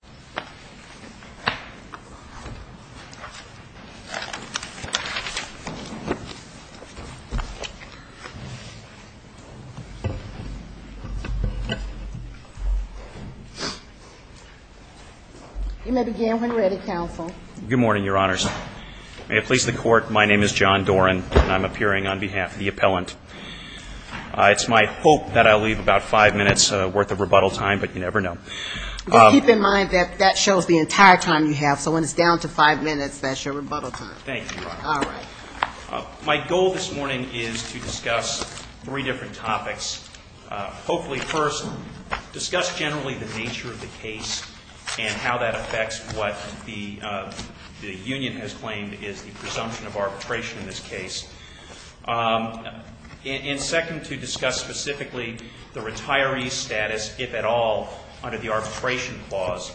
Good morning, Your Honors. May it please the Court, my name is John Doran, and I'm appearing on behalf of the appellant. It's my hope that I'll leave about five minutes' worth of rebuttal time, but you never know. But keep in mind that that shows the entire time you have, so when it's down to five minutes, that's your rebuttal time. Thank you, Your Honor. All right. My goal this morning is to discuss three different topics. Hopefully, first, discuss generally the nature of the case and how that affects what the union has claimed is the presumption of arbitration in this case. And second, to discuss specifically the retiree's status, if at all, under the arbitration clause.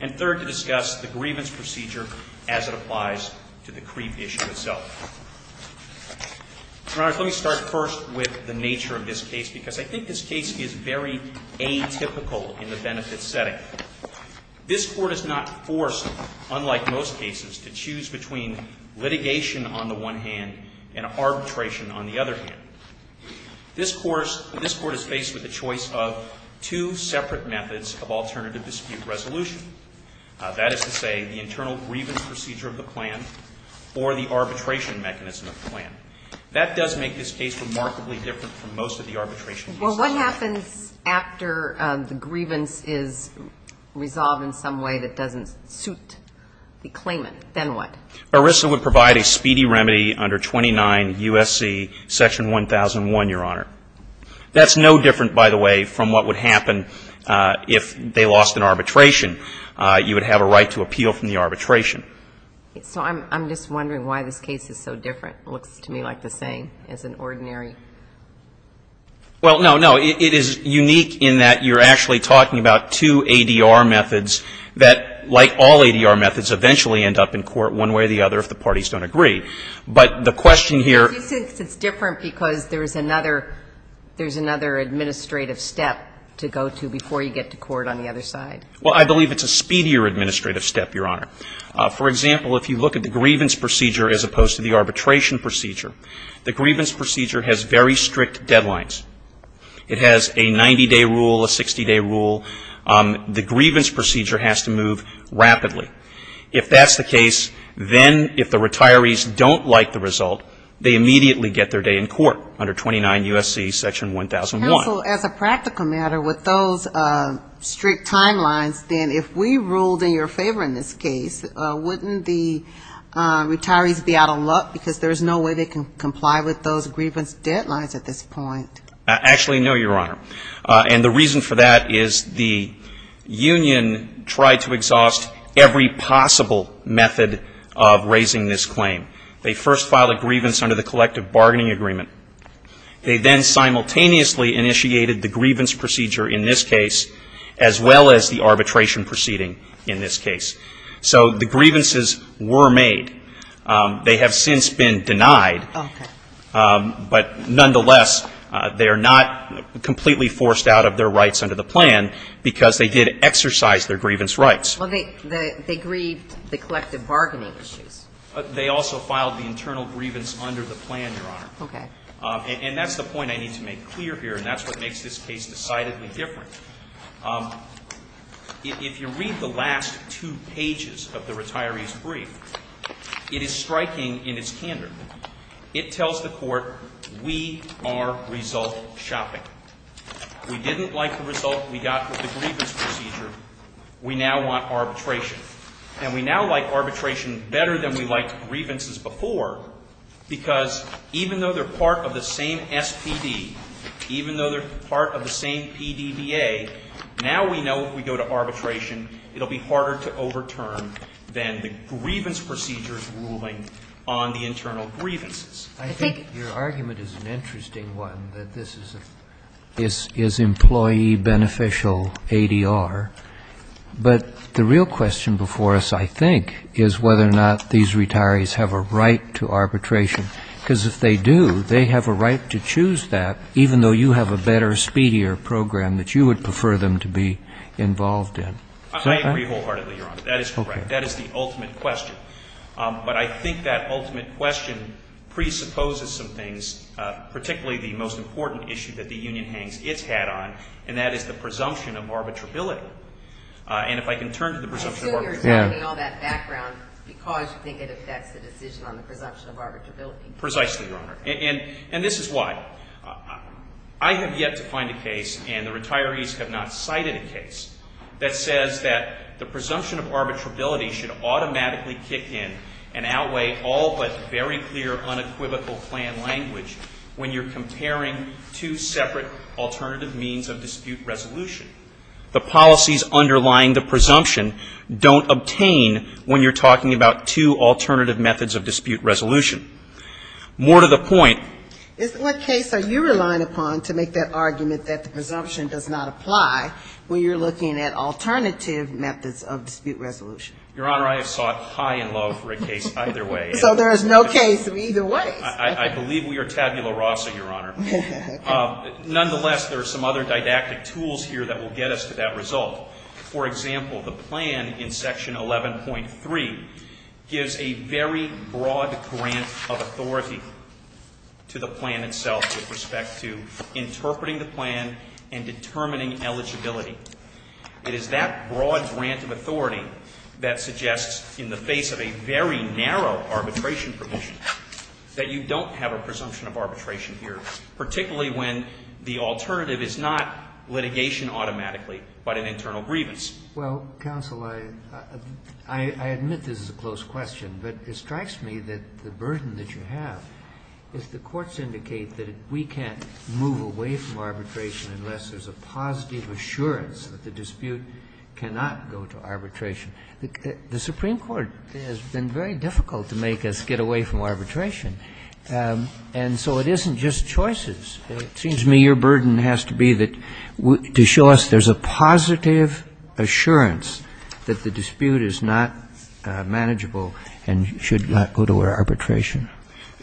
And third, to discuss the grievance procedure as it applies to the creep issue itself. Your Honors, let me start first with the nature of this case, because I think this case is very atypical in the benefits setting. This Court is not forced, unlike most cases, to have litigation on the one hand and arbitration on the other hand. This Court is faced with the choice of two separate methods of alternative dispute resolution. That is to say, the internal grievance procedure of the plan or the arbitration mechanism of the plan. That does make this case remarkably different from most of the arbitration cases. Well, what happens after the grievance is resolved in some way that doesn't suit the claimant? Then what? ERISA would provide a speedy remedy under 29 U.S.C. Section 1001, Your Honor. That's no different, by the way, from what would happen if they lost an arbitration. You would have a right to appeal from the arbitration. So I'm just wondering why this case is so different. It looks to me like the same as an ordinary. Well, no, no. It is unique in that you're actually talking about two ADR methods that, like all ADR methods, eventually end up in court one way or the other if the parties don't agree. But the question here — Do you think it's different because there's another — there's another administrative step to go to before you get to court on the other side? Well, I believe it's a speedier administrative step, Your Honor. For example, if you look at the grievance procedure as opposed to the arbitration procedure, the grievance procedure has very strict deadlines. It has a 90-day rule, a 60-day rule. The grievance procedure has to move rapidly. If that's the case, then if the retirees don't like the result, they immediately get their day in court under 29 U.S.C. section 1001. Counsel, as a practical matter, with those strict timelines, then if we ruled in your favor in this case, wouldn't the retirees be out of luck because there's no way they can comply with those grievance deadlines at this point? Actually, no, Your Honor. And the reason for that is the union tried to exhaust every possible method of raising this claim. They first filed a grievance under the collective bargaining agreement. They then simultaneously initiated the grievance procedure in this case as well as the arbitration proceeding in this case. So the grievances were made. They have since been denied. Okay. But nonetheless, they are not completely forced out of their rights under the plan because they did exercise their grievance rights. Well, they grieved the collective bargaining issues. They also filed the internal grievance under the plan, Your Honor. Okay. And that's the point I need to make clear here, and that's what makes this case decidedly different. If you read the last two pages of the retiree's brief, it is striking in its candor. It tells the Court, we are result shopping. We didn't like the result we got with the grievance procedure. We now want arbitration. And we now like arbitration better than we liked grievances before because even though they're part of the same SPD, even though they're part of the same PDBA, now we know if we go to arbitration, it will be harder to overturn than the grievance procedures ruling on the internal grievances. I think your argument is an interesting one, that this is employee beneficial ADR. But the real question before us, I think, is whether or not these retirees have a right to arbitration, because if they do, they have a right to choose that even though you have a better, speedier program that you would prefer them to be involved in. I agree wholeheartedly, Your Honor. That is correct. That is the ultimate question. But I think that ultimate question presupposes some things, particularly the most important issue that the union hangs its hat on, and that is the presumption of arbitrability. And if I can turn to the presumption of arbitrability. I assume you're telling me all that background because you think it affects the decision on the presumption of arbitrability. Precisely, Your Honor. And this is why. I have yet to find a case, and the retirees have not cited a case, that says that the presumption of arbitrability should automatically kick in and outweigh all but very clear, unequivocal plan language when you're comparing two separate alternative means of dispute resolution. The policies underlying the presumption don't obtain when you're talking about two alternative methods of dispute resolution. More to the point. In what case are you relying upon to make that argument that the presumption does not apply when you're looking at alternative methods of dispute resolution? Your Honor, I have sought high and low for a case either way. So there is no case of either ways. I believe we are tabula rasa, Your Honor. Nonetheless, there are some other didactic tools here that will get us to that result. For example, the plan in Section 11.3 gives a very broad grant of authority to the plan itself with respect to interpreting the plan and determining eligibility. It is that broad grant of authority that suggests, in the face of a very narrow arbitration provision, that you don't have a presumption of arbitration here, particularly when the alternative is not litigation automatically but an internal grievance. Well, counsel, I admit this is a close question, but it strikes me that the burden that you have is the courts indicate that we can't move away from arbitration unless there's a positive assurance that the dispute cannot go to arbitration. The Supreme Court has been very difficult to make us get away from arbitration. And so it isn't just choices. It seems to me your burden has to be that to show us there's a positive assurance that the dispute is not manageable and should not go to arbitration.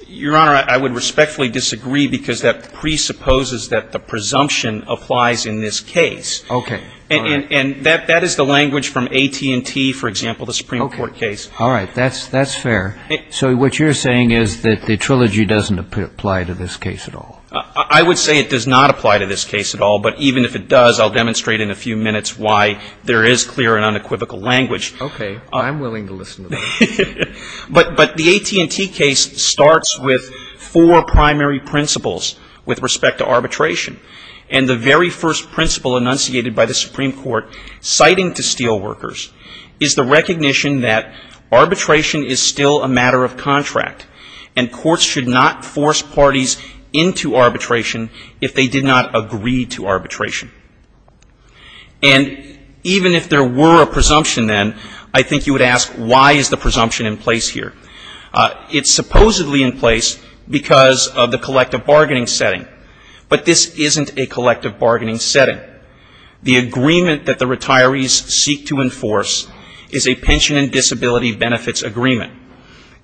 Your Honor, I would respectfully disagree because that presupposes that the presumption applies in this case. Okay. And that is the language from AT&T, for example, the Supreme Court case. All right. That's fair. So what you're saying is that the trilogy doesn't apply to this case at all? I would say it does not apply to this case at all, but even if it does, I'll demonstrate in a few minutes why there is clear and unequivocal language. Okay. I'm willing to listen to that. But the AT&T case starts with four primary principles with respect to arbitration. And the very first principle enunciated by the Supreme Court citing to steel workers is the recognition that arbitration is still a matter of contract and courts should not force parties into arbitration if they did not agree to arbitration. And even if there were a presumption then, I think you would ask why is the presumption in place here? It's supposedly in place because of the collective bargaining setting. But this isn't a collective bargaining setting. The agreement that the retirees seek to enforce is a pension and disability benefits agreement.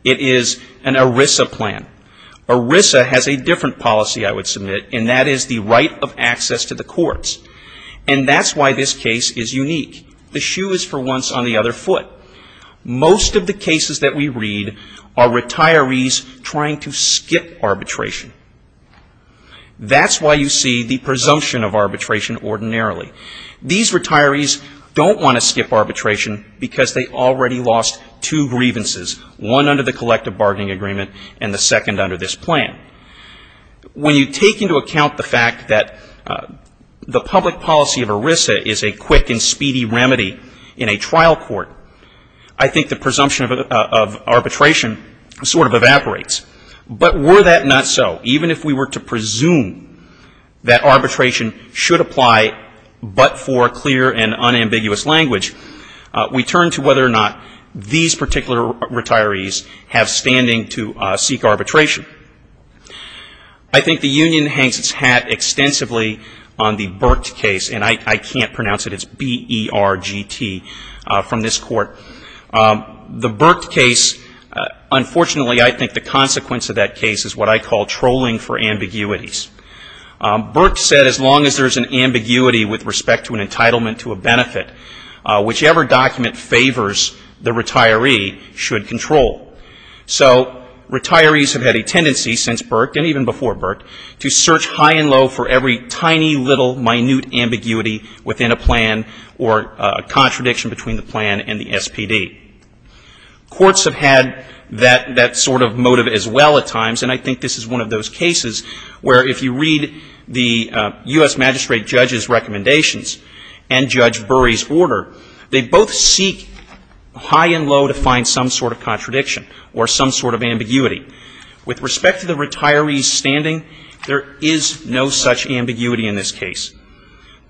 It is an ERISA plan. ERISA has a different policy, I would say, and that's why this case is unique. The shoe is for once on the other foot. Most of the cases that we read are retirees trying to skip arbitration. That's why you see the presumption of arbitration ordinarily. These retirees don't want to skip arbitration because they already lost two grievances, one under the collective bargaining agreement and the second under this plan. When you take into account the fact that the public policy of ERISA is a quick and speedy remedy in a trial court, I think the presumption of arbitration sort of evaporates. But were that not so, even if we were to presume that arbitration should apply but for clear and unambiguous language, we turn to whether or not these particular retirees have standing to seek arbitration. I think the union hangs its hat extensively on the Burke case, and I can't pronounce it. It's B-E-R-G-T from this court. The Burke case, unfortunately, I think the consequence of that case is what I call trolling for ambiguities. Burke said as long as there's an ambiguity with respect to an entitlement to a benefit, whichever document favors the retiree should be in control. So retirees have had a tendency since Burke, and even before Burke, to search high and low for every tiny, little, minute ambiguity within a plan or a contradiction between the plan and the SPD. Courts have had that sort of motive as well at times, and I think this is one of those cases where if you read the U.S. Magistrate Judge's recommendations and Judge Burry's order, they both seek high and low to find some sort of contradiction or some sort of ambiguity. With respect to the retiree's standing, there is no such ambiguity in this case.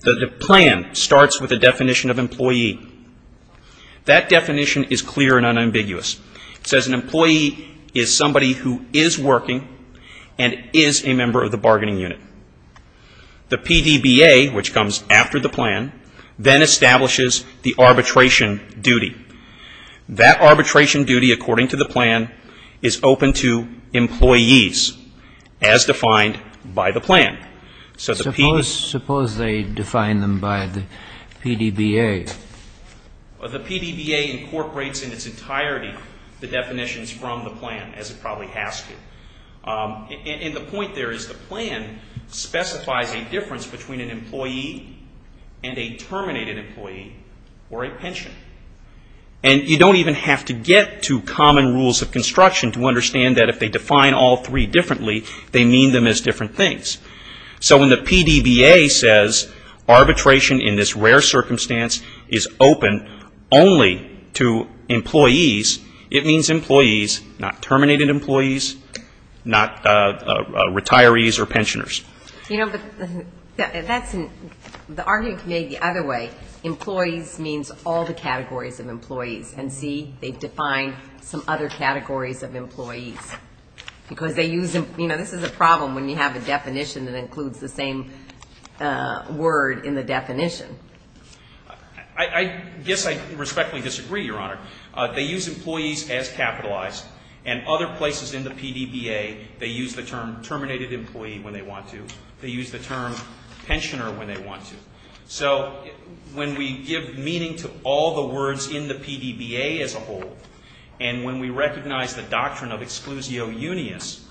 The plan starts with a definition of employee. That definition is clear and unambiguous. It says an employee is somebody who is working and is a member of the bargaining unit. The plan establishes the arbitration duty. That arbitration duty, according to the plan, is open to employees as defined by the plan. So the PDBA... Suppose they define them by the PDBA? The PDBA incorporates in its entirety the definitions from the plan, as it probably has to. And the point there is the plan specifies a difference between an employee and a terminated employee or a pension. And you don't even have to get to common rules of construction to understand that if they define all three differently, they mean them as different things. So when the PDBA says arbitration in this rare circumstance is open only to employees, it means employees, not terminated employees, not retirees or pensioners. You know, but that's an... The argument can be made the other way. Employees means all the categories of employees. And see, they've defined some other categories of employees. Because they use... You know, this is a problem when you have a definition that includes the same word in the definition. I guess I respectfully disagree, Your Honor. They use employees as capitalized. And other people, they use the term pensioner when they want to. So when we give meaning to all the words in the PDBA as a whole, and when we recognize the doctrine of exclusio unius,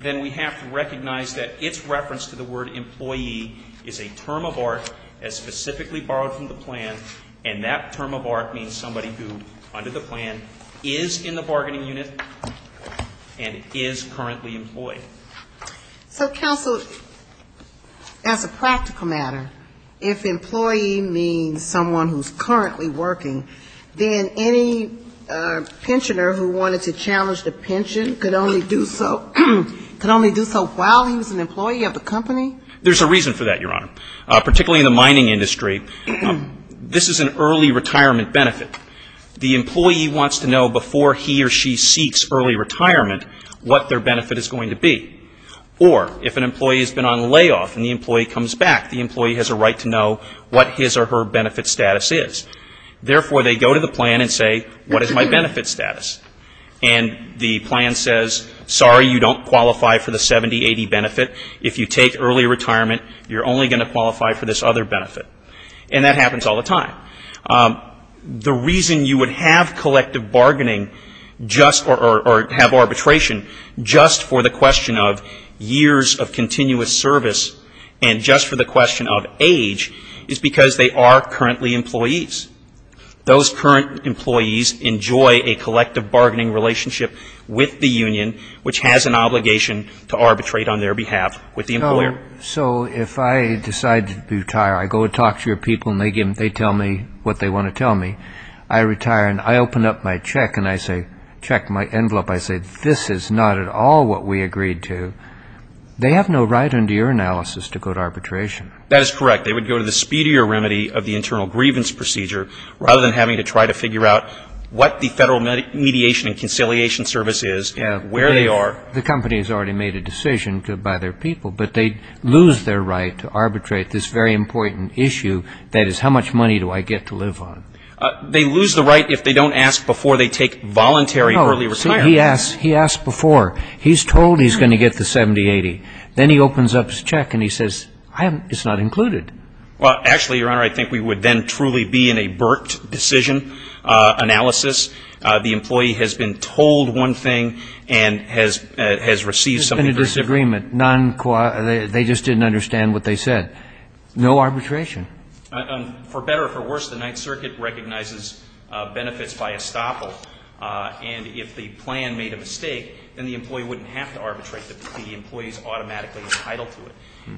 then we have to recognize that its reference to the word employee is a term of art as specifically borrowed from the plan. And that term of art means somebody who, under the plan, is in the bargaining unit and is currently employed. So, counsel, as a practical matter, if employee means someone who's currently working, then any pensioner who wanted to challenge the pension could only do so while he was an employee of the company? There's a reason for that, Your Honor. Particularly in the mining industry, this is an early retirement benefit. The employee wants to know before he or she seeks early retirement what their benefit is going to be. Or, if an employee has been on layoff and the employee comes back, the employee has a right to know what his or her benefit status is. Therefore, they go to the plan and say, what is my benefit status? And the plan says, sorry, you don't qualify for the 70-80 benefit. If you take early retirement, you're only going to qualify for this other benefit. And that happens all the time. The reason you would have collective bargaining just or have arbitration just for the question of years of continuous service and just for the question of age is because they are currently employees. Those current employees enjoy a collective bargaining relationship with the union, which has an obligation to arbitrate on their behalf with the employer. So if I decide to retire, I go and talk to your people and they tell me what they want to tell me. I retire and I open up my check and I say, check my envelope. I say, this is not at all what we agreed to. They have no right under your analysis to go to arbitration. That is correct. They would go to the speedier remedy of the internal grievance procedure rather than having to try to figure out what the Federal Mediation and Conciliation Service is and where they are. The company has already made a decision by their people, but they lose their right to arbitrate this very important issue. That is, how much money do I get to live on? They lose the right if they don't ask before they take voluntary early retirement. He asked before. He's told he's going to get the 70-80. Then he opens up his check and he says, it's not included. Well, actually, Your Honor, I think we would then truly be in a burked decision analysis. The employee has been told one thing and has received something very different. There's been a disagreement. They just didn't understand what they said. No arbitration. For better or for worse, the Ninth Circuit recognizes benefits by estoppel. And if the plan made a mistake, then the employee wouldn't have to arbitrate. The employee is automatically entitled to it.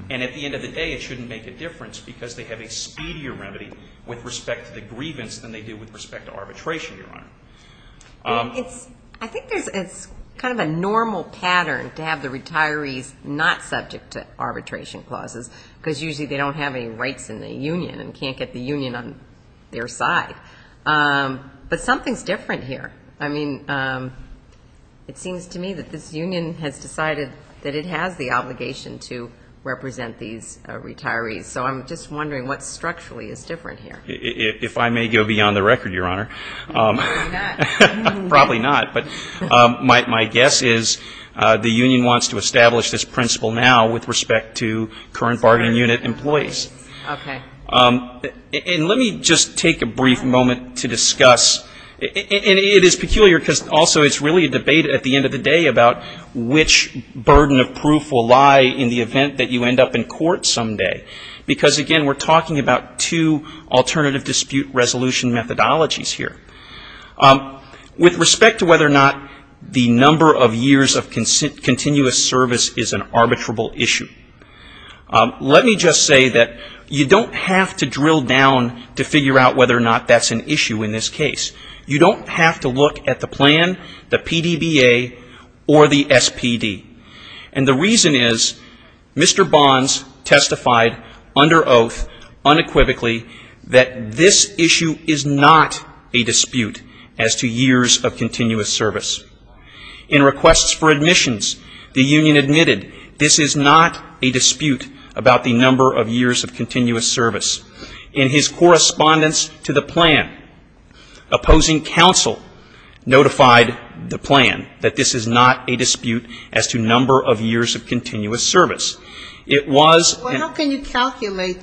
And at the end of the day, it shouldn't make a difference because they have a speedier remedy with respect to the grievance than they do with respect to arbitration, Your Honor. I think it's kind of a normal pattern to have the retirees not subject to arbitration clauses because usually they don't have any rights in the union and can't get the union on their side. But something's different here. I mean, it seems to me that this union has decided that it has the obligation to represent these retirees. So I'm just wondering what structurally is different here. If I may go beyond the record, Your Honor. Probably not. Probably not. But my guess is the union wants to establish this principle now with respect to current bargaining unit employees. Okay. And let me just take a brief moment to discuss. And it is peculiar because also it's really a debate at the end of the day about which burden of proof will lie in the event that you end up in court someday. Because, again, we're talking about two alternative dispute resolution methodologies here. With respect to whether or not the number of years of continuous service is an arbitrable issue, let me just say that you don't have to drill down to figure out whether or not that's an issue in this case. You don't have to look at the plan, the PDBA, or the SPD. And the reason is Mr. Bonds testified under oath unequivocally that this issue is not a dispute as to years of continuous service. In requests for admissions, the union admitted this is not a dispute about the number of years of continuous service. In his correspondence to the plan, opposing counsel notified the number of years of continuous service. It was an attempt to determine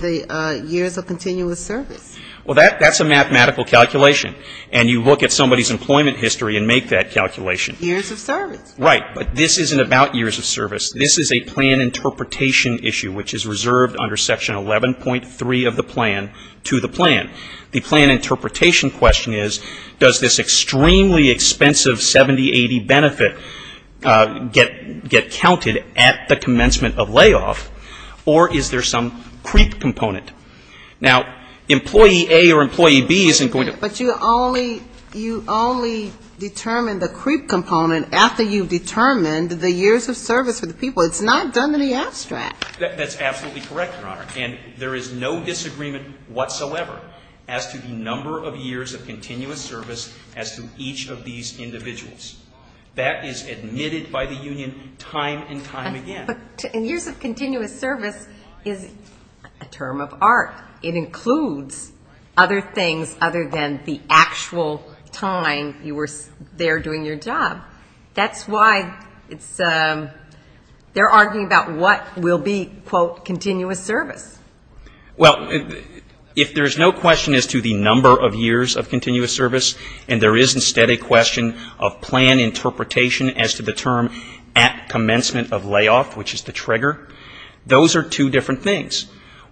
the years of continuous service. Well, that's a mathematical calculation. And you look at somebody's employment history and make that calculation. Years of service. Right. But this isn't about years of service. This is a plan interpretation issue which is reserved under section 11.3 of the plan to the plan. The plan interpretation question is does this extremely expensive 70-80 benefit get counted at the commencement of layoff or is there some creep component? Now employee A or employee B isn't going to But you only determine the creep component after you've determined the years of service for the people. It's not done in the abstract. That's absolutely correct, Your Honor. And there is no disagreement whatsoever as to the number of years of continuous service as to each of these individuals. That is admitted by the union time and time again. But years of continuous service is a term of art. It includes other things other than the actual time you were there doing your job. That's why it's they're arguing about what will be, quote, continuous service. Well, if there's no question as to the number of years of continuous service and there is instead a question of plan interpretation as to the term at commencement of layoff, which is the trigger, those are two different things.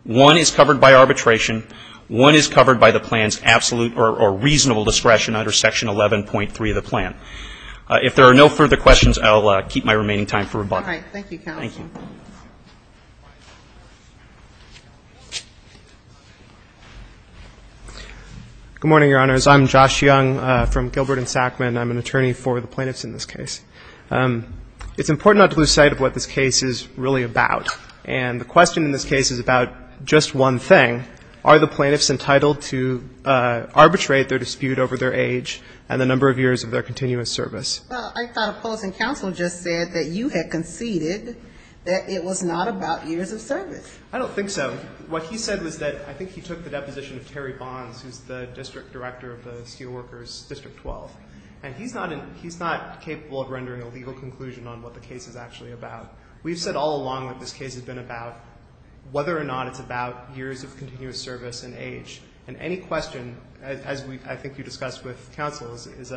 One is covered by arbitration. One is covered by the plan's absolute or reasonable discretion under section 11.3 of the plan. If there are no further questions, I'll keep my remaining time for rebuttal. All right. Thank you, counsel. Thank you. Good morning, Your Honors. I'm Josh Young from Gilbert and Sackman. I'm an attorney for the plaintiffs in this case. It's important not to lose sight of what this case is really about. And the question in this case is about just one thing. Are the plaintiffs entitled to arbitrate their dispute over their age and the number of years of their continuous service? Well, I thought opposing counsel just said that you had conceded that it was not about years of service. I don't think so. What he said was that I think he took the deposition of Terry Bonds, who's the district director of the Steelworkers District 12. And he's not capable of rendering a legal conclusion on what the case is actually about. We've said all along that this case has been about whether or not it's about years of continuous service and age. And any question, as I think you discussed with counsel, is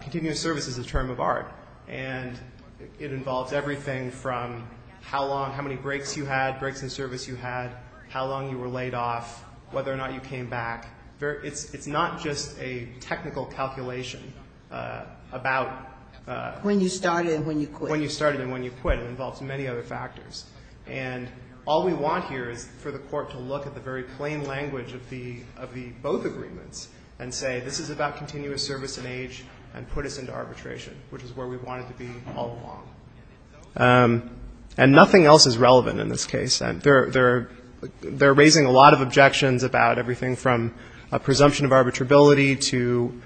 continuous service is a term of art. And it refers to the service you had, how long you were laid off, whether or not you came back. It's not just a technical calculation about... When you started and when you quit. When you started and when you quit. It involves many other factors. And all we want here is for the court to look at the very plain language of the both agreements and say, this is about continuous service and age and put us into arbitration, which is where we wanted to be all along. And nothing else is relevant in this case. They're raising a lot of objections about everything from a presumption of arbitrability to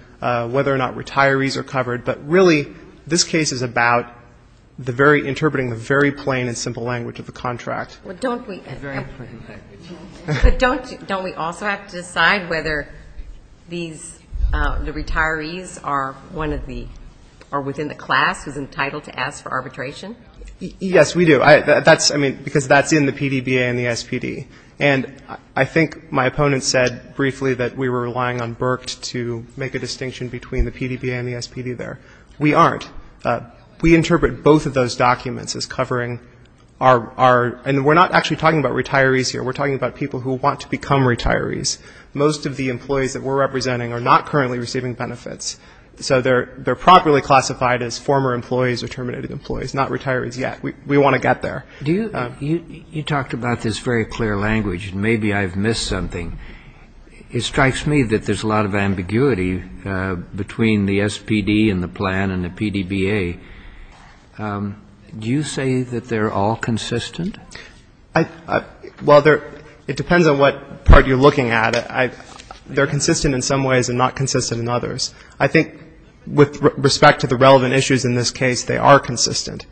whether or not retirees are covered. But really, this case is about interpreting the very plain and simple language of the contract. But don't we also have to decide whether the retirees are within the class who's entitled to ask for arbitration? Yes, we do. That's, I mean, because that's in the PDBA and the SPD. And I think my opponent said briefly that we were relying on Burke to make a distinction between the PDBA and the SPD there. We aren't. We interpret both of those documents as covering our, and we're not actually talking about retirees here. We're talking about people who want to become retirees. Most of the employees that we're representing are not currently receiving benefits. So they're properly classified as former employees or terminated employees, not retirees yet. We want to get there. Do you you talked about this very clear language. Maybe I've missed something. It strikes me that there's a lot of ambiguity between the SPD and the plan and the PDBA. Do you say that they're all consistent? Well, it depends on what part you're looking at. They're consistent in some ways and not consistent in others. I think with respect to the relevant issues in this case, they are consistent.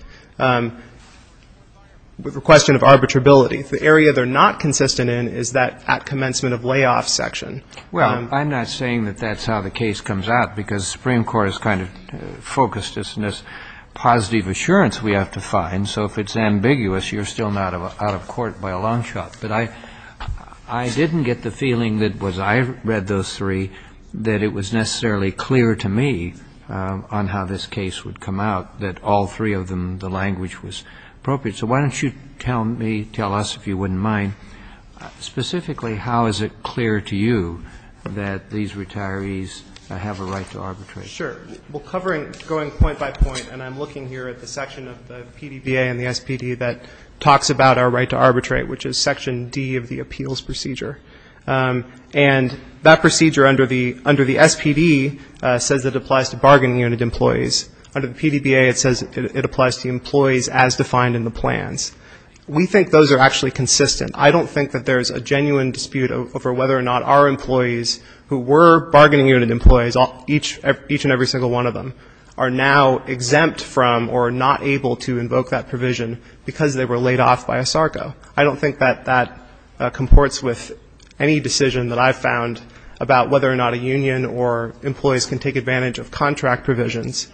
With the question of arbitrability, the area they're not consistent in is that at commencement of layoff section. Well, I'm not saying that that's how the case comes out, because the Supreme Court is kind of focused on this positive assurance we have to find. So if it's ambiguous, you're still not out of court by a long shot. But I didn't get the feeling that was I read those three, that it was necessarily clear to me on how this case would come out that all three of them, the language was appropriate. So why don't you tell me, tell us, if you wouldn't mind, specifically how is it clear to you that these retirees have a right to arbitrate? Sure. Well, covering, going point by point, and I'm looking here at the section of the PDBA and the SPD that talks about our right to arbitrate, which is section D of the appeals procedure. And that procedure under the SPD says it applies to bargaining unit employees. Under the PDBA it says it applies to employees as defined in the plans. We think those are actually consistent. I don't think that there's a genuine dispute over whether or not our employees who were bargaining unit employees, each and every single one of them, are now exempt from or not able to invoke that provision because they were laid off by a SARCO. I don't think that that comports with any decision that I've found about whether or not a union or employees can take advantage of contract provisions.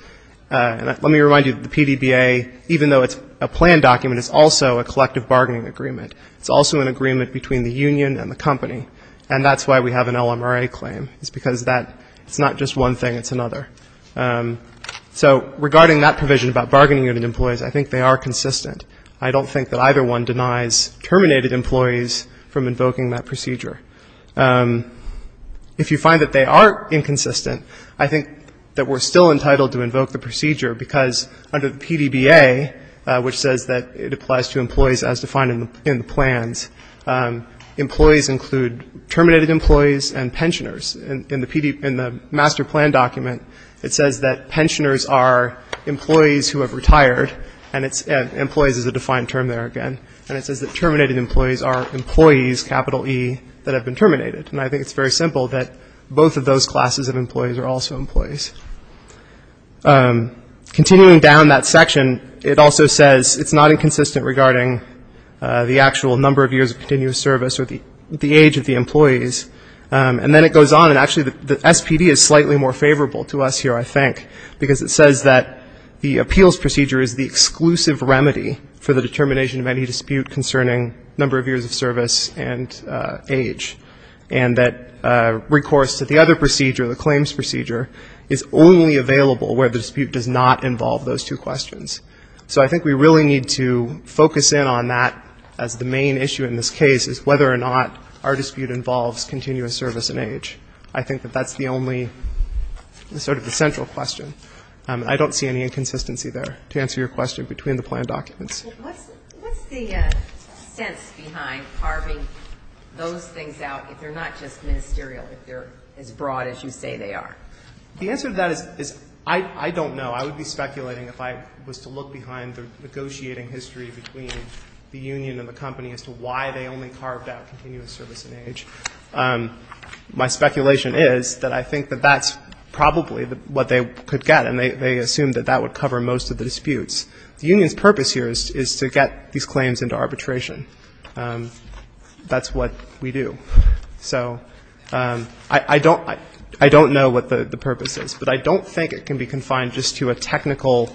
And let me remind you that the PDBA, even though it's a plan document, is also a collective bargaining agreement. It's also an agreement between the union and the company. And that's why we have an LMRA claim. It's because that's not just one thing, it's another. So regarding that provision about bargaining unit employees, I think they are consistent. I don't think that either one denies terminated employees from invoking that procedure. If you find that they are inconsistent, I think that we're still entitled to invoke the procedure because under the PDBA, which says that it applies to employees as defined in the plans, employees include terminated employees and pensioners. In the master plan document, it says that pensioners are employees who have retired. And employees is a defined term there again. And it says that terminated employees are employees, capital E, that have been terminated. And I think it's very simple that both of those classes of employees are also employees. Continuing down that section, it also says it's not inconsistent regarding the actual number of years of continuous service or the age of the employees. And then it goes on actually the SPD is slightly more favorable to us here, I think, because it says that the appeals procedure is the exclusive remedy for the determination of any dispute concerning number of years of service and age. And that recourse to the other procedure, the claims procedure, is only available where the dispute does not involve those two questions. So I think we really need to focus in on that as the main issue in this case is whether or not our dispute involves continuous service and age. I think that that's the only sort of the central question. I don't see any inconsistency there, to answer your question, between the plan documents. What's the sense behind carving those things out if they're not just ministerial, if they're as broad as you say they are? The answer to that is I don't know. I would be speculating if I was to look behind the continuous service and age. My speculation is that I think that that's probably what they could get, and they assume that that would cover most of the disputes. The union's purpose here is to get these claims into arbitration. That's what we do. So I don't know what the purpose is, but I don't think it can be confined just to a technical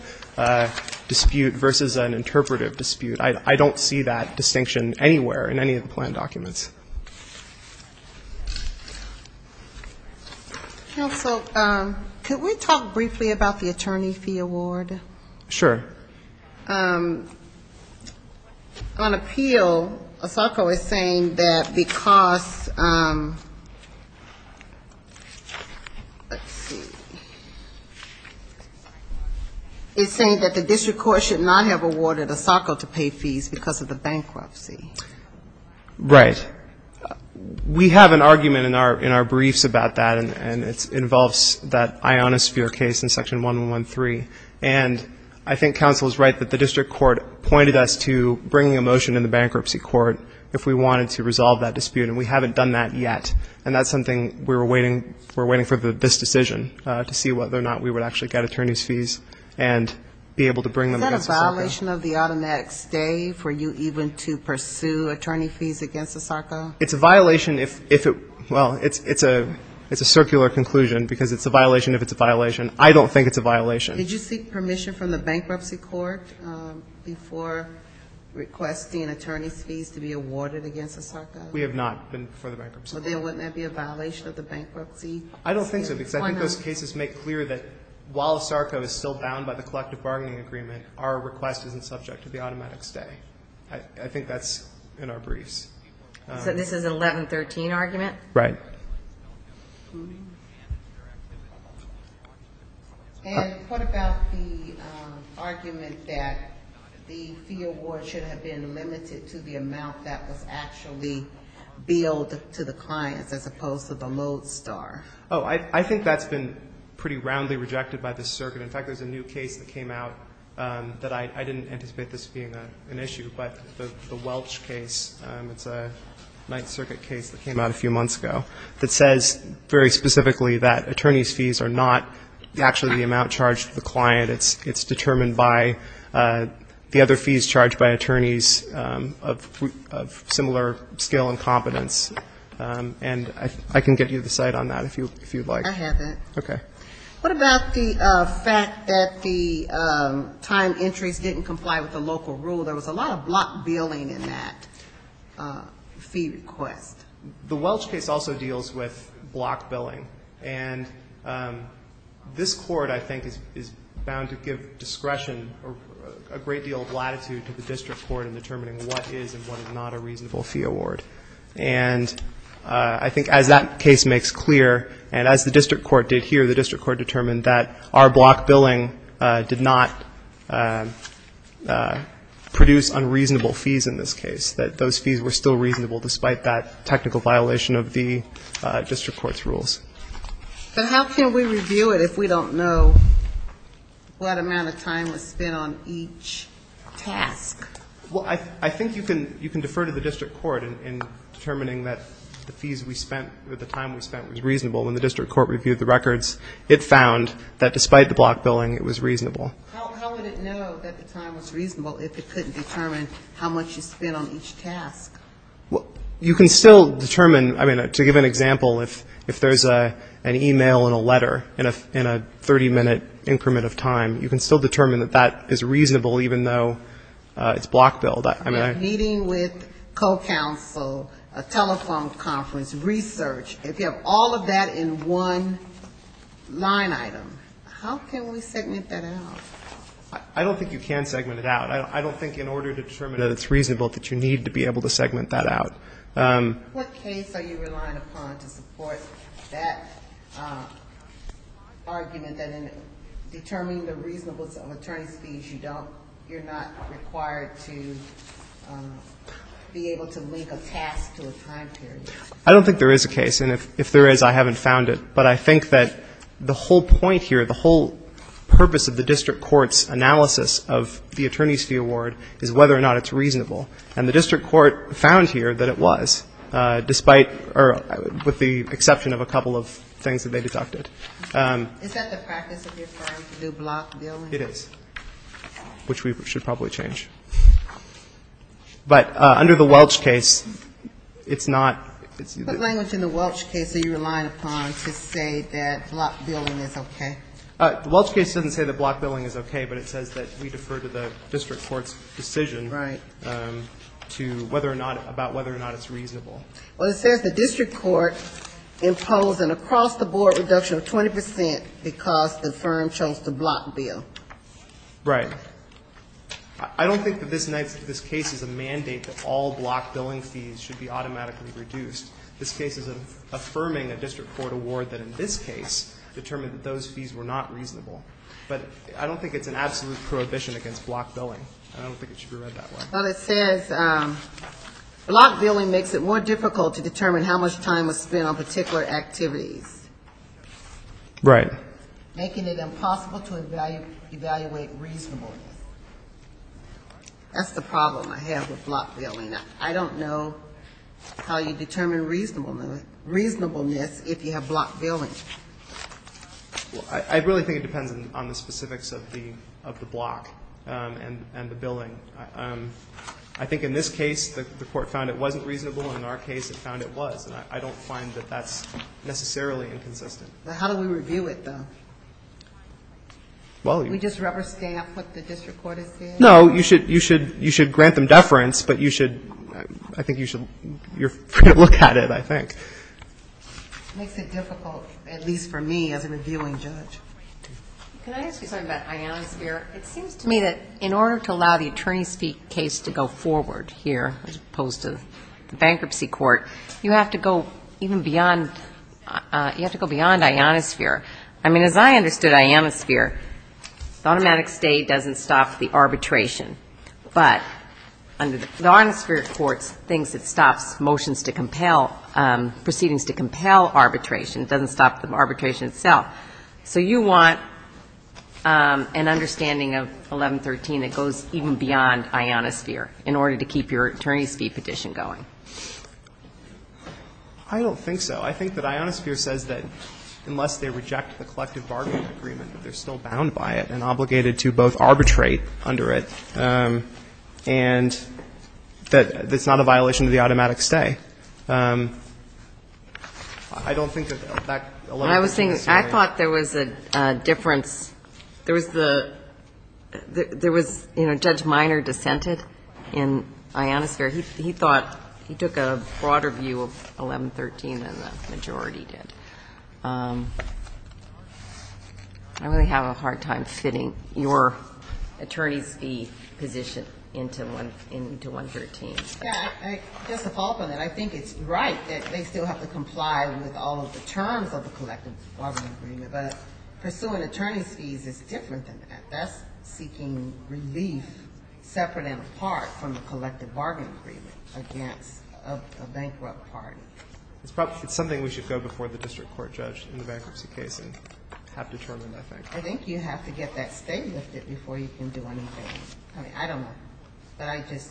dispute versus an interpretive dispute. I don't see that distinction anywhere in any of the plan documents. Counsel, could we talk briefly about the attorney fee award? On appeal, ASACO is saying that because, let's see, it's saying that the district court should not have awarded ASACO to pay fees because of the bankruptcy. Right. We have an argument in our briefs about that, and it involves that Iona Sphere case in Section 111.3. And I think counsel is right that the district court pointed us to bringing a motion in the bankruptcy court if we wanted to resolve that dispute, and we haven't done that yet. And that's something we were waiting for this decision, to see whether or not we would actually get attorney's fees and be able to bring them against ASACO. Is that a violation of the automatic stay for you even to pursue attorney fees against ASACO? It's a violation if it, well, it's a circular conclusion, because it's a violation if it's a violation. I don't think it's a violation. Did you seek permission from the bankruptcy court before requesting attorney's fees to be awarded against ASACO? We have not been for the bankruptcy. Well, then wouldn't that be a violation of the bankruptcy? I don't think so, because I think those cases make clear that while ASACO is still bound by the collective bargaining agreement, our request isn't subject to the automatic stay. I think that's in our briefs. So this is an 1113 argument? Right. And what about the argument that the fee award should have been limited to the amount that was actually billed to the clients as opposed to the mode star? Oh, I think that's been pretty roundly rejected by this circuit. In fact, there's a new case that came out that I didn't anticipate this being an issue, but the Welch case, it's a Ninth Circuit case that came out a few months ago, that says very specifically that attorney's fees are not actually the amount charged to the client. It's determined by the other fees charged by attorneys of similar skill and competence. And I can get you the site on that if you'd like. I have it. Okay. What about the fact that the time entries didn't comply with the local rule? There was a lot of block billing in that fee request. The Welch case also deals with block billing. And this Court, I think, is bound to give discretion or a great deal of latitude to the district court in determining what is and what is not a reasonable fee award. And I think as that case makes clear and as the district court did here, the district court determined that our block billing did not produce unreasonable fees in this case, that those fees were still reasonable despite that technical violation of the district court's rules. But how can we review it if we don't know what amount of time was spent on each task? Well, I think you can defer to the district court in determining that the fees we spent was reasonable. When the district court reviewed the records, it found that despite the block billing, it was reasonable. How would it know that the time was reasonable if it couldn't determine how much you spent on each task? You can still determine. I mean, to give an example, if there's an e-mail and a letter in a 30-minute increment of time, you can still determine that that is reasonable even though it's block billed. If you're meeting with co-counsel, a telephone conference, research, if you have all of that in one line item, how can we segment that out? I don't think you can segment it out. I don't think in order to determine that it's reasonable that you need to be able to segment that out. What case are you relying upon to support that argument that in determining the reasonableness of attorney's fees, you're not required to be able to link a task to a time period? I don't think there is a case. And if there is, I haven't found it. But I think that the whole point here, the whole purpose of the district court's analysis of the attorney's fee award is whether or not it's reasonable. And the district court found here that it was, despite or with the exception of a couple of things that they deducted. Is that the practice of your firm to do block billing? It is, which we should probably change. But under the Welch case, it's not. What language in the Welch case are you relying upon to say that block billing is okay? The Welch case doesn't say that block billing is okay, but it says that we defer to the district court's decision to whether or not, about whether or not it's reasonable. Well, it says the district court imposed an across-the-board reduction of 20 percent because the firm chose to block bill. Right. I don't think that this case is a mandate that all block billing fees should be automatically reduced. This case is affirming a district court award that in this case determined that those fees were not reasonable. But I don't think it's an absolute prohibition against block billing. I don't think it should be read that way. But it says block billing makes it more difficult to determine how much time was spent on particular activities. Right. Making it impossible to evaluate reasonableness. That's the problem I have with block billing. I don't know how you determine reasonableness if you have block billing. I really think it depends on the specifics of the block and the billing. I think in this case the court found it wasn't reasonable, and in our case it found it was. And I don't find that that's necessarily inconsistent. How do we review it, though? Do we just rubber stamp what the district court has said? No. You should grant them deference, but you should look at it, I think. It makes it difficult, at least for me as a reviewing judge. Can I ask you something about ionosphere? It seems to me that in order to allow the even beyond, you have to go beyond ionosphere. I mean, as I understood ionosphere, the automatic state doesn't stop the arbitration. But the ionosphere court thinks it stops motions to compel, proceedings to compel arbitration. It doesn't stop the arbitration itself. So you want an understanding of 1113 that goes even beyond ionosphere in order to keep your attorney's fee petition going. I don't think so. I think that ionosphere says that unless they reject the collective bargaining agreement, that they're still bound by it and obligated to both arbitrate under it, and that it's not a violation of the automatic stay. I don't think that that 1113 is fair. I was thinking, I thought there was a difference. There was the, there was, you know, Judge Minor dissented in ionosphere. He thought, he took a broader view of 1113 than the majority did. I really have a hard time fitting your attorney's fee position into 113. Yeah, just to follow up on that, I think it's right that they still have to comply with all of the terms of the collective bargaining agreement. But pursuing attorney's fees is different than that. That's seeking relief separate and apart from the collective bargaining agreement against a bankrupt party. It's something we should go before the district court judge in the bankruptcy case and have determined, I think. I think you have to get that stay lifted before you can do anything. I mean, I don't know. But I just,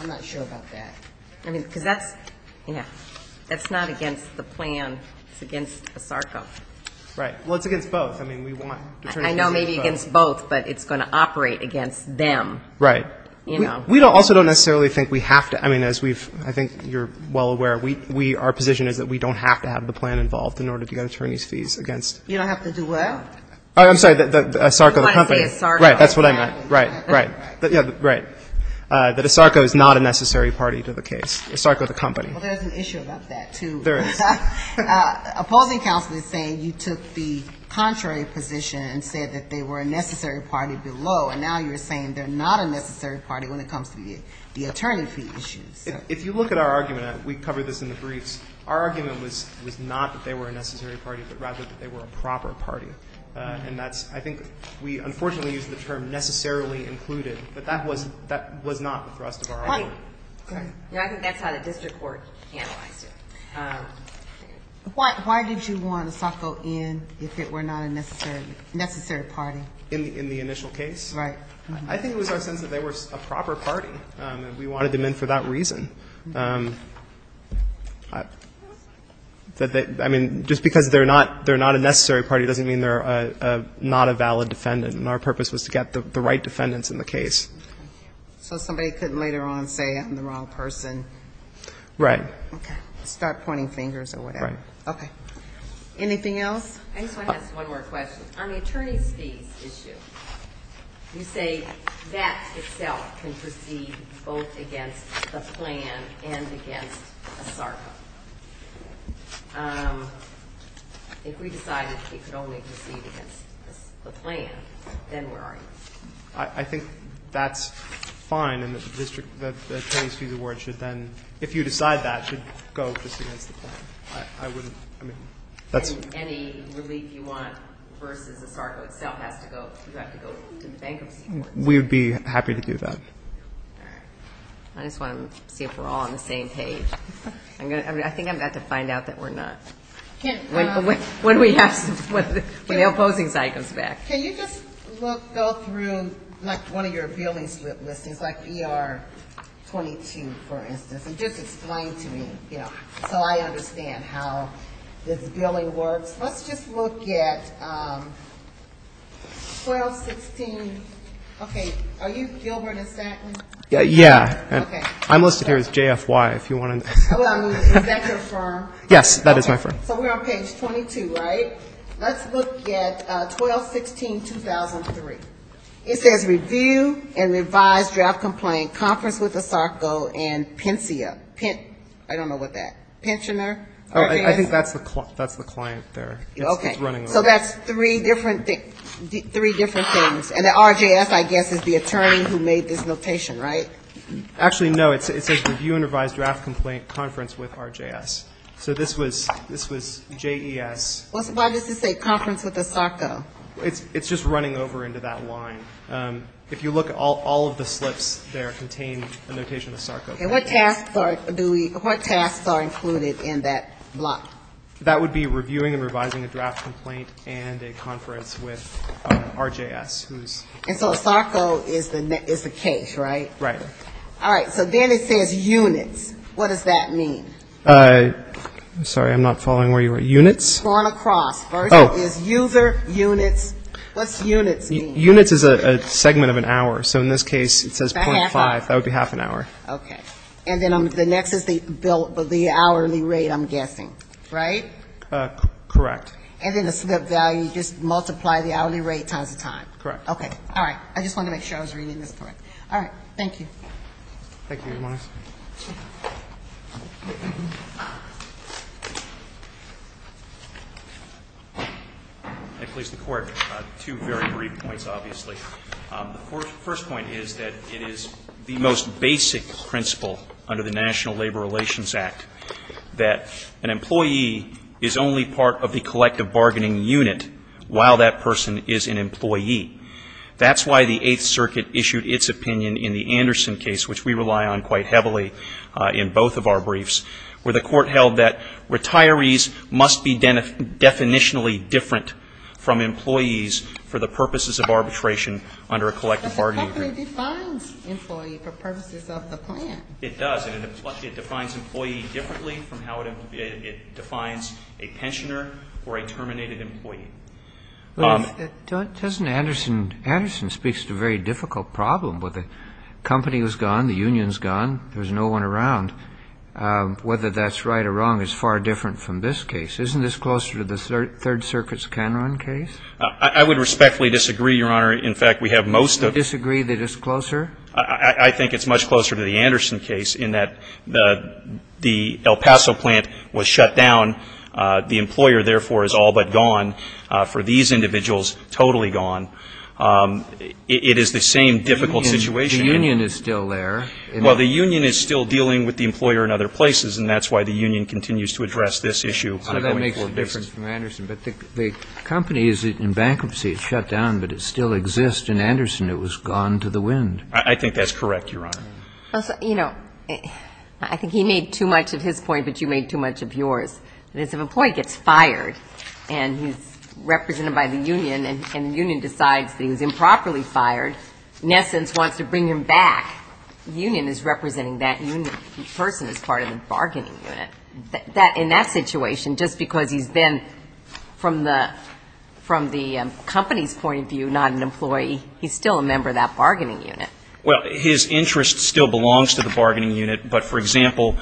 I'm not sure about that. I mean, because that's, yeah, that's not against the plan. It's against ASARCO. Right. Well, it's against both. I mean, we want attorney's fees. I know maybe against both, but it's going to operate against them. Right. You know. We also don't necessarily think we have to. I mean, as we've, I think you're well aware, we, our position is that we don't have to have the plan involved in order to get attorney's fees against. You don't have to do what? I'm sorry, ASARCO, the company. That's what I meant. Right. That's what I meant. Right. Right. Right. That ASARCO is not a necessary party to the case. ASARCO, the company. Well, there's an issue about that, too. There is. Opposing counsel is saying you took the contrary position and said that they were a necessary party below, and now you're saying they're not a necessary party when it comes to the attorney fee issue. If you look at our argument, we covered this in the briefs, our argument was not that they were a necessary party, but rather that they were a proper party. And that's, I think we unfortunately used the term necessarily included, but that was not the thrust of our argument. I think that's how the district court analyzed it. Why did you want ASARCO in if it were not a necessary party? In the initial case? Right. I think it was our sense that they were a proper party, and we wanted them in for that reason. I mean, just because they're not a necessary party doesn't mean they're not a valid defendant, and our purpose was to get the right defendants in the case. So somebody could later on say I'm the wrong person. Right. Okay. Start pointing fingers or whatever. Right. Okay. Anything else? I just want to ask one more question. On the attorney's fees issue, you say that itself can proceed both against the plan and against ASARCO. If we decided it could only proceed against the plan, then where are you? I think that's fine, and the attorney's fees award should then, if you decide that, should go just against the plan. Any relief you want versus ASARCO itself, you have to go to the bankruptcy court. We would be happy to do that. All right. I just want to see if we're all on the same page. I think I'm about to find out that we're not. When the opposing side comes back. Can you just go through, like, one of your billing slip listings, like ER 22, for instance, and just explain to me, you know, so I understand how this billing works. Let's just look at 1216. Okay. Are you Gilbert and Staton? Yeah. Okay. I'm listed here as JFY, if you want to. Is that your firm? Yes, that is my firm. So we're on page 22, right? Let's look at 1216-2003. It says review and revised draft complaint, conference with ASARCO and PINCIA. I don't know what that. Pensioner? I think that's the client there. Okay. It's running over. So that's three different things, and the RJS, I guess, is the attorney who made this notation, right? Actually, no. It says review and revised draft complaint, conference with RJS. So this was JES. Why does it say conference with ASARCO? It's just running over into that line. If you look, all of the slips there contain a notation of ASARCO. And what tasks are included in that block? That would be reviewing and revising a draft complaint and a conference with RJS. And so ASARCO is the case, right? Right. All right. So then it says units. What does that mean? Sorry, I'm not following where you were. Units? Going across. Oh. Is user, units. What's units mean? Units is a segment of an hour. So in this case, it says .5. That would be half an hour. Okay. And then the next is the hourly rate, I'm guessing, right? Correct. And then the slip value, you just multiply the hourly rate times the time. Correct. Okay. All right. I just wanted to make sure I was reading this correct. All right. Thank you. Thank you, Your Honor. I place the Court two very brief points, obviously. The first point is that it is the most basic principle under the National Labor Relations Act that an employee is only part of the collective bargaining unit while that person is an employee. That's why the Eighth Circuit issued its opinion in the Anderson case, which we rely on quite heavily in both of our briefs, where the Court held that retirees must be definitionally different from employees for the purposes of arbitration under a collective bargaining unit. But the company defines employee for purposes of the plan. It does. And it defines employee differently from how it defines a pensioner or a terminated employee. Doesn't Anderson – Anderson speaks to a very difficult problem. The company is gone. The union is gone. There's no one around. Whether that's right or wrong is far different from this case. Isn't this closer to the Third Circuit's Canron case? I would respectfully disagree, Your Honor. In fact, we have most of – You disagree that it's closer? I think it's much closer to the Anderson case in that the El Paso plant was shut down. The employer, therefore, is all but gone. For these individuals, totally gone. It is the same difficult situation. The union is still there. Well, the union is still dealing with the employer in other places, and that's why the union continues to address this issue. So that makes a difference from Anderson. But the company is in bankruptcy. It's shut down, but it still exists. In Anderson, it was gone to the wind. I think that's correct, Your Honor. You know, I think he made too much of his point, but you made too much of yours. If an employee gets fired and he's represented by the union and the union decides that he was improperly fired, in essence wants to bring him back, the union is representing that person as part of the bargaining unit. In that situation, just because he's been, from the company's point of view, not an employee, he's still a member of that bargaining unit. Well, his interest still belongs to the bargaining unit. But, for example,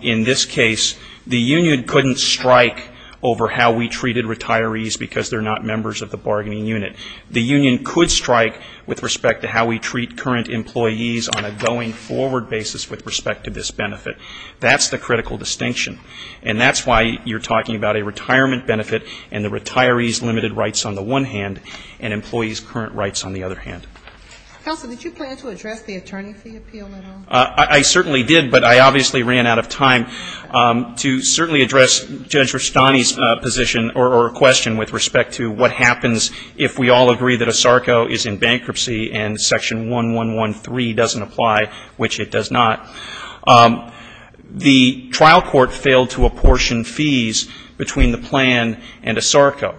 in this case, the union couldn't strike over how we treated retirees because they're not members of the bargaining unit. The union could strike with respect to how we treat current employees on a going-forward basis with respect to this benefit. That's the critical distinction. And that's why you're talking about a retirement benefit and the retiree's limited rights on the one hand and employees' current rights on the other hand. Counsel, did you plan to address the attorney fee appeal at all? I certainly did, but I obviously ran out of time to certainly address Judge Rustani's position or question with respect to what happens if we all agree that ASARCO is in bankruptcy and Section 1113 doesn't apply, which it does not. The trial court failed to apportion fees between the plan and ASARCO.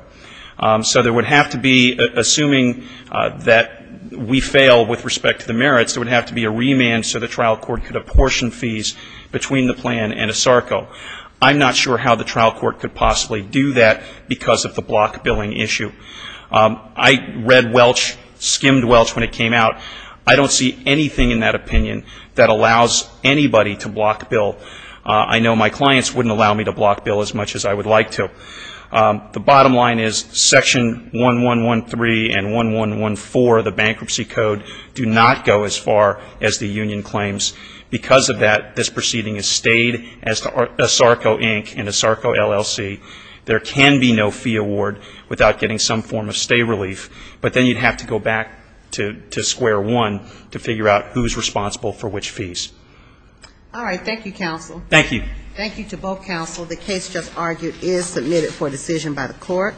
So there would have to be, assuming that we fail with respect to the merits, there would have to be a remand so the trial court could apportion fees between the plan and ASARCO. I'm not sure how the trial court could possibly do that because of the block billing issue. I read Welch, skimmed Welch when it came out. I don't see anything in that opinion that allows anybody to block bill. I know my clients wouldn't allow me to block bill as much as I would like to. The bottom line is Section 1113 and 1114, the bankruptcy code, do not go as far as the union claims. Because of that, this proceeding is stayed as ASARCO Inc. and ASARCO LLC. There can be no fee award without getting some form of stay relief, but then you'd have to go back to square one to figure out who's responsible for which fees. All right. Thank you, counsel. Thank you. Thank you to both counsel. The case just argued is submitted for decision by the court.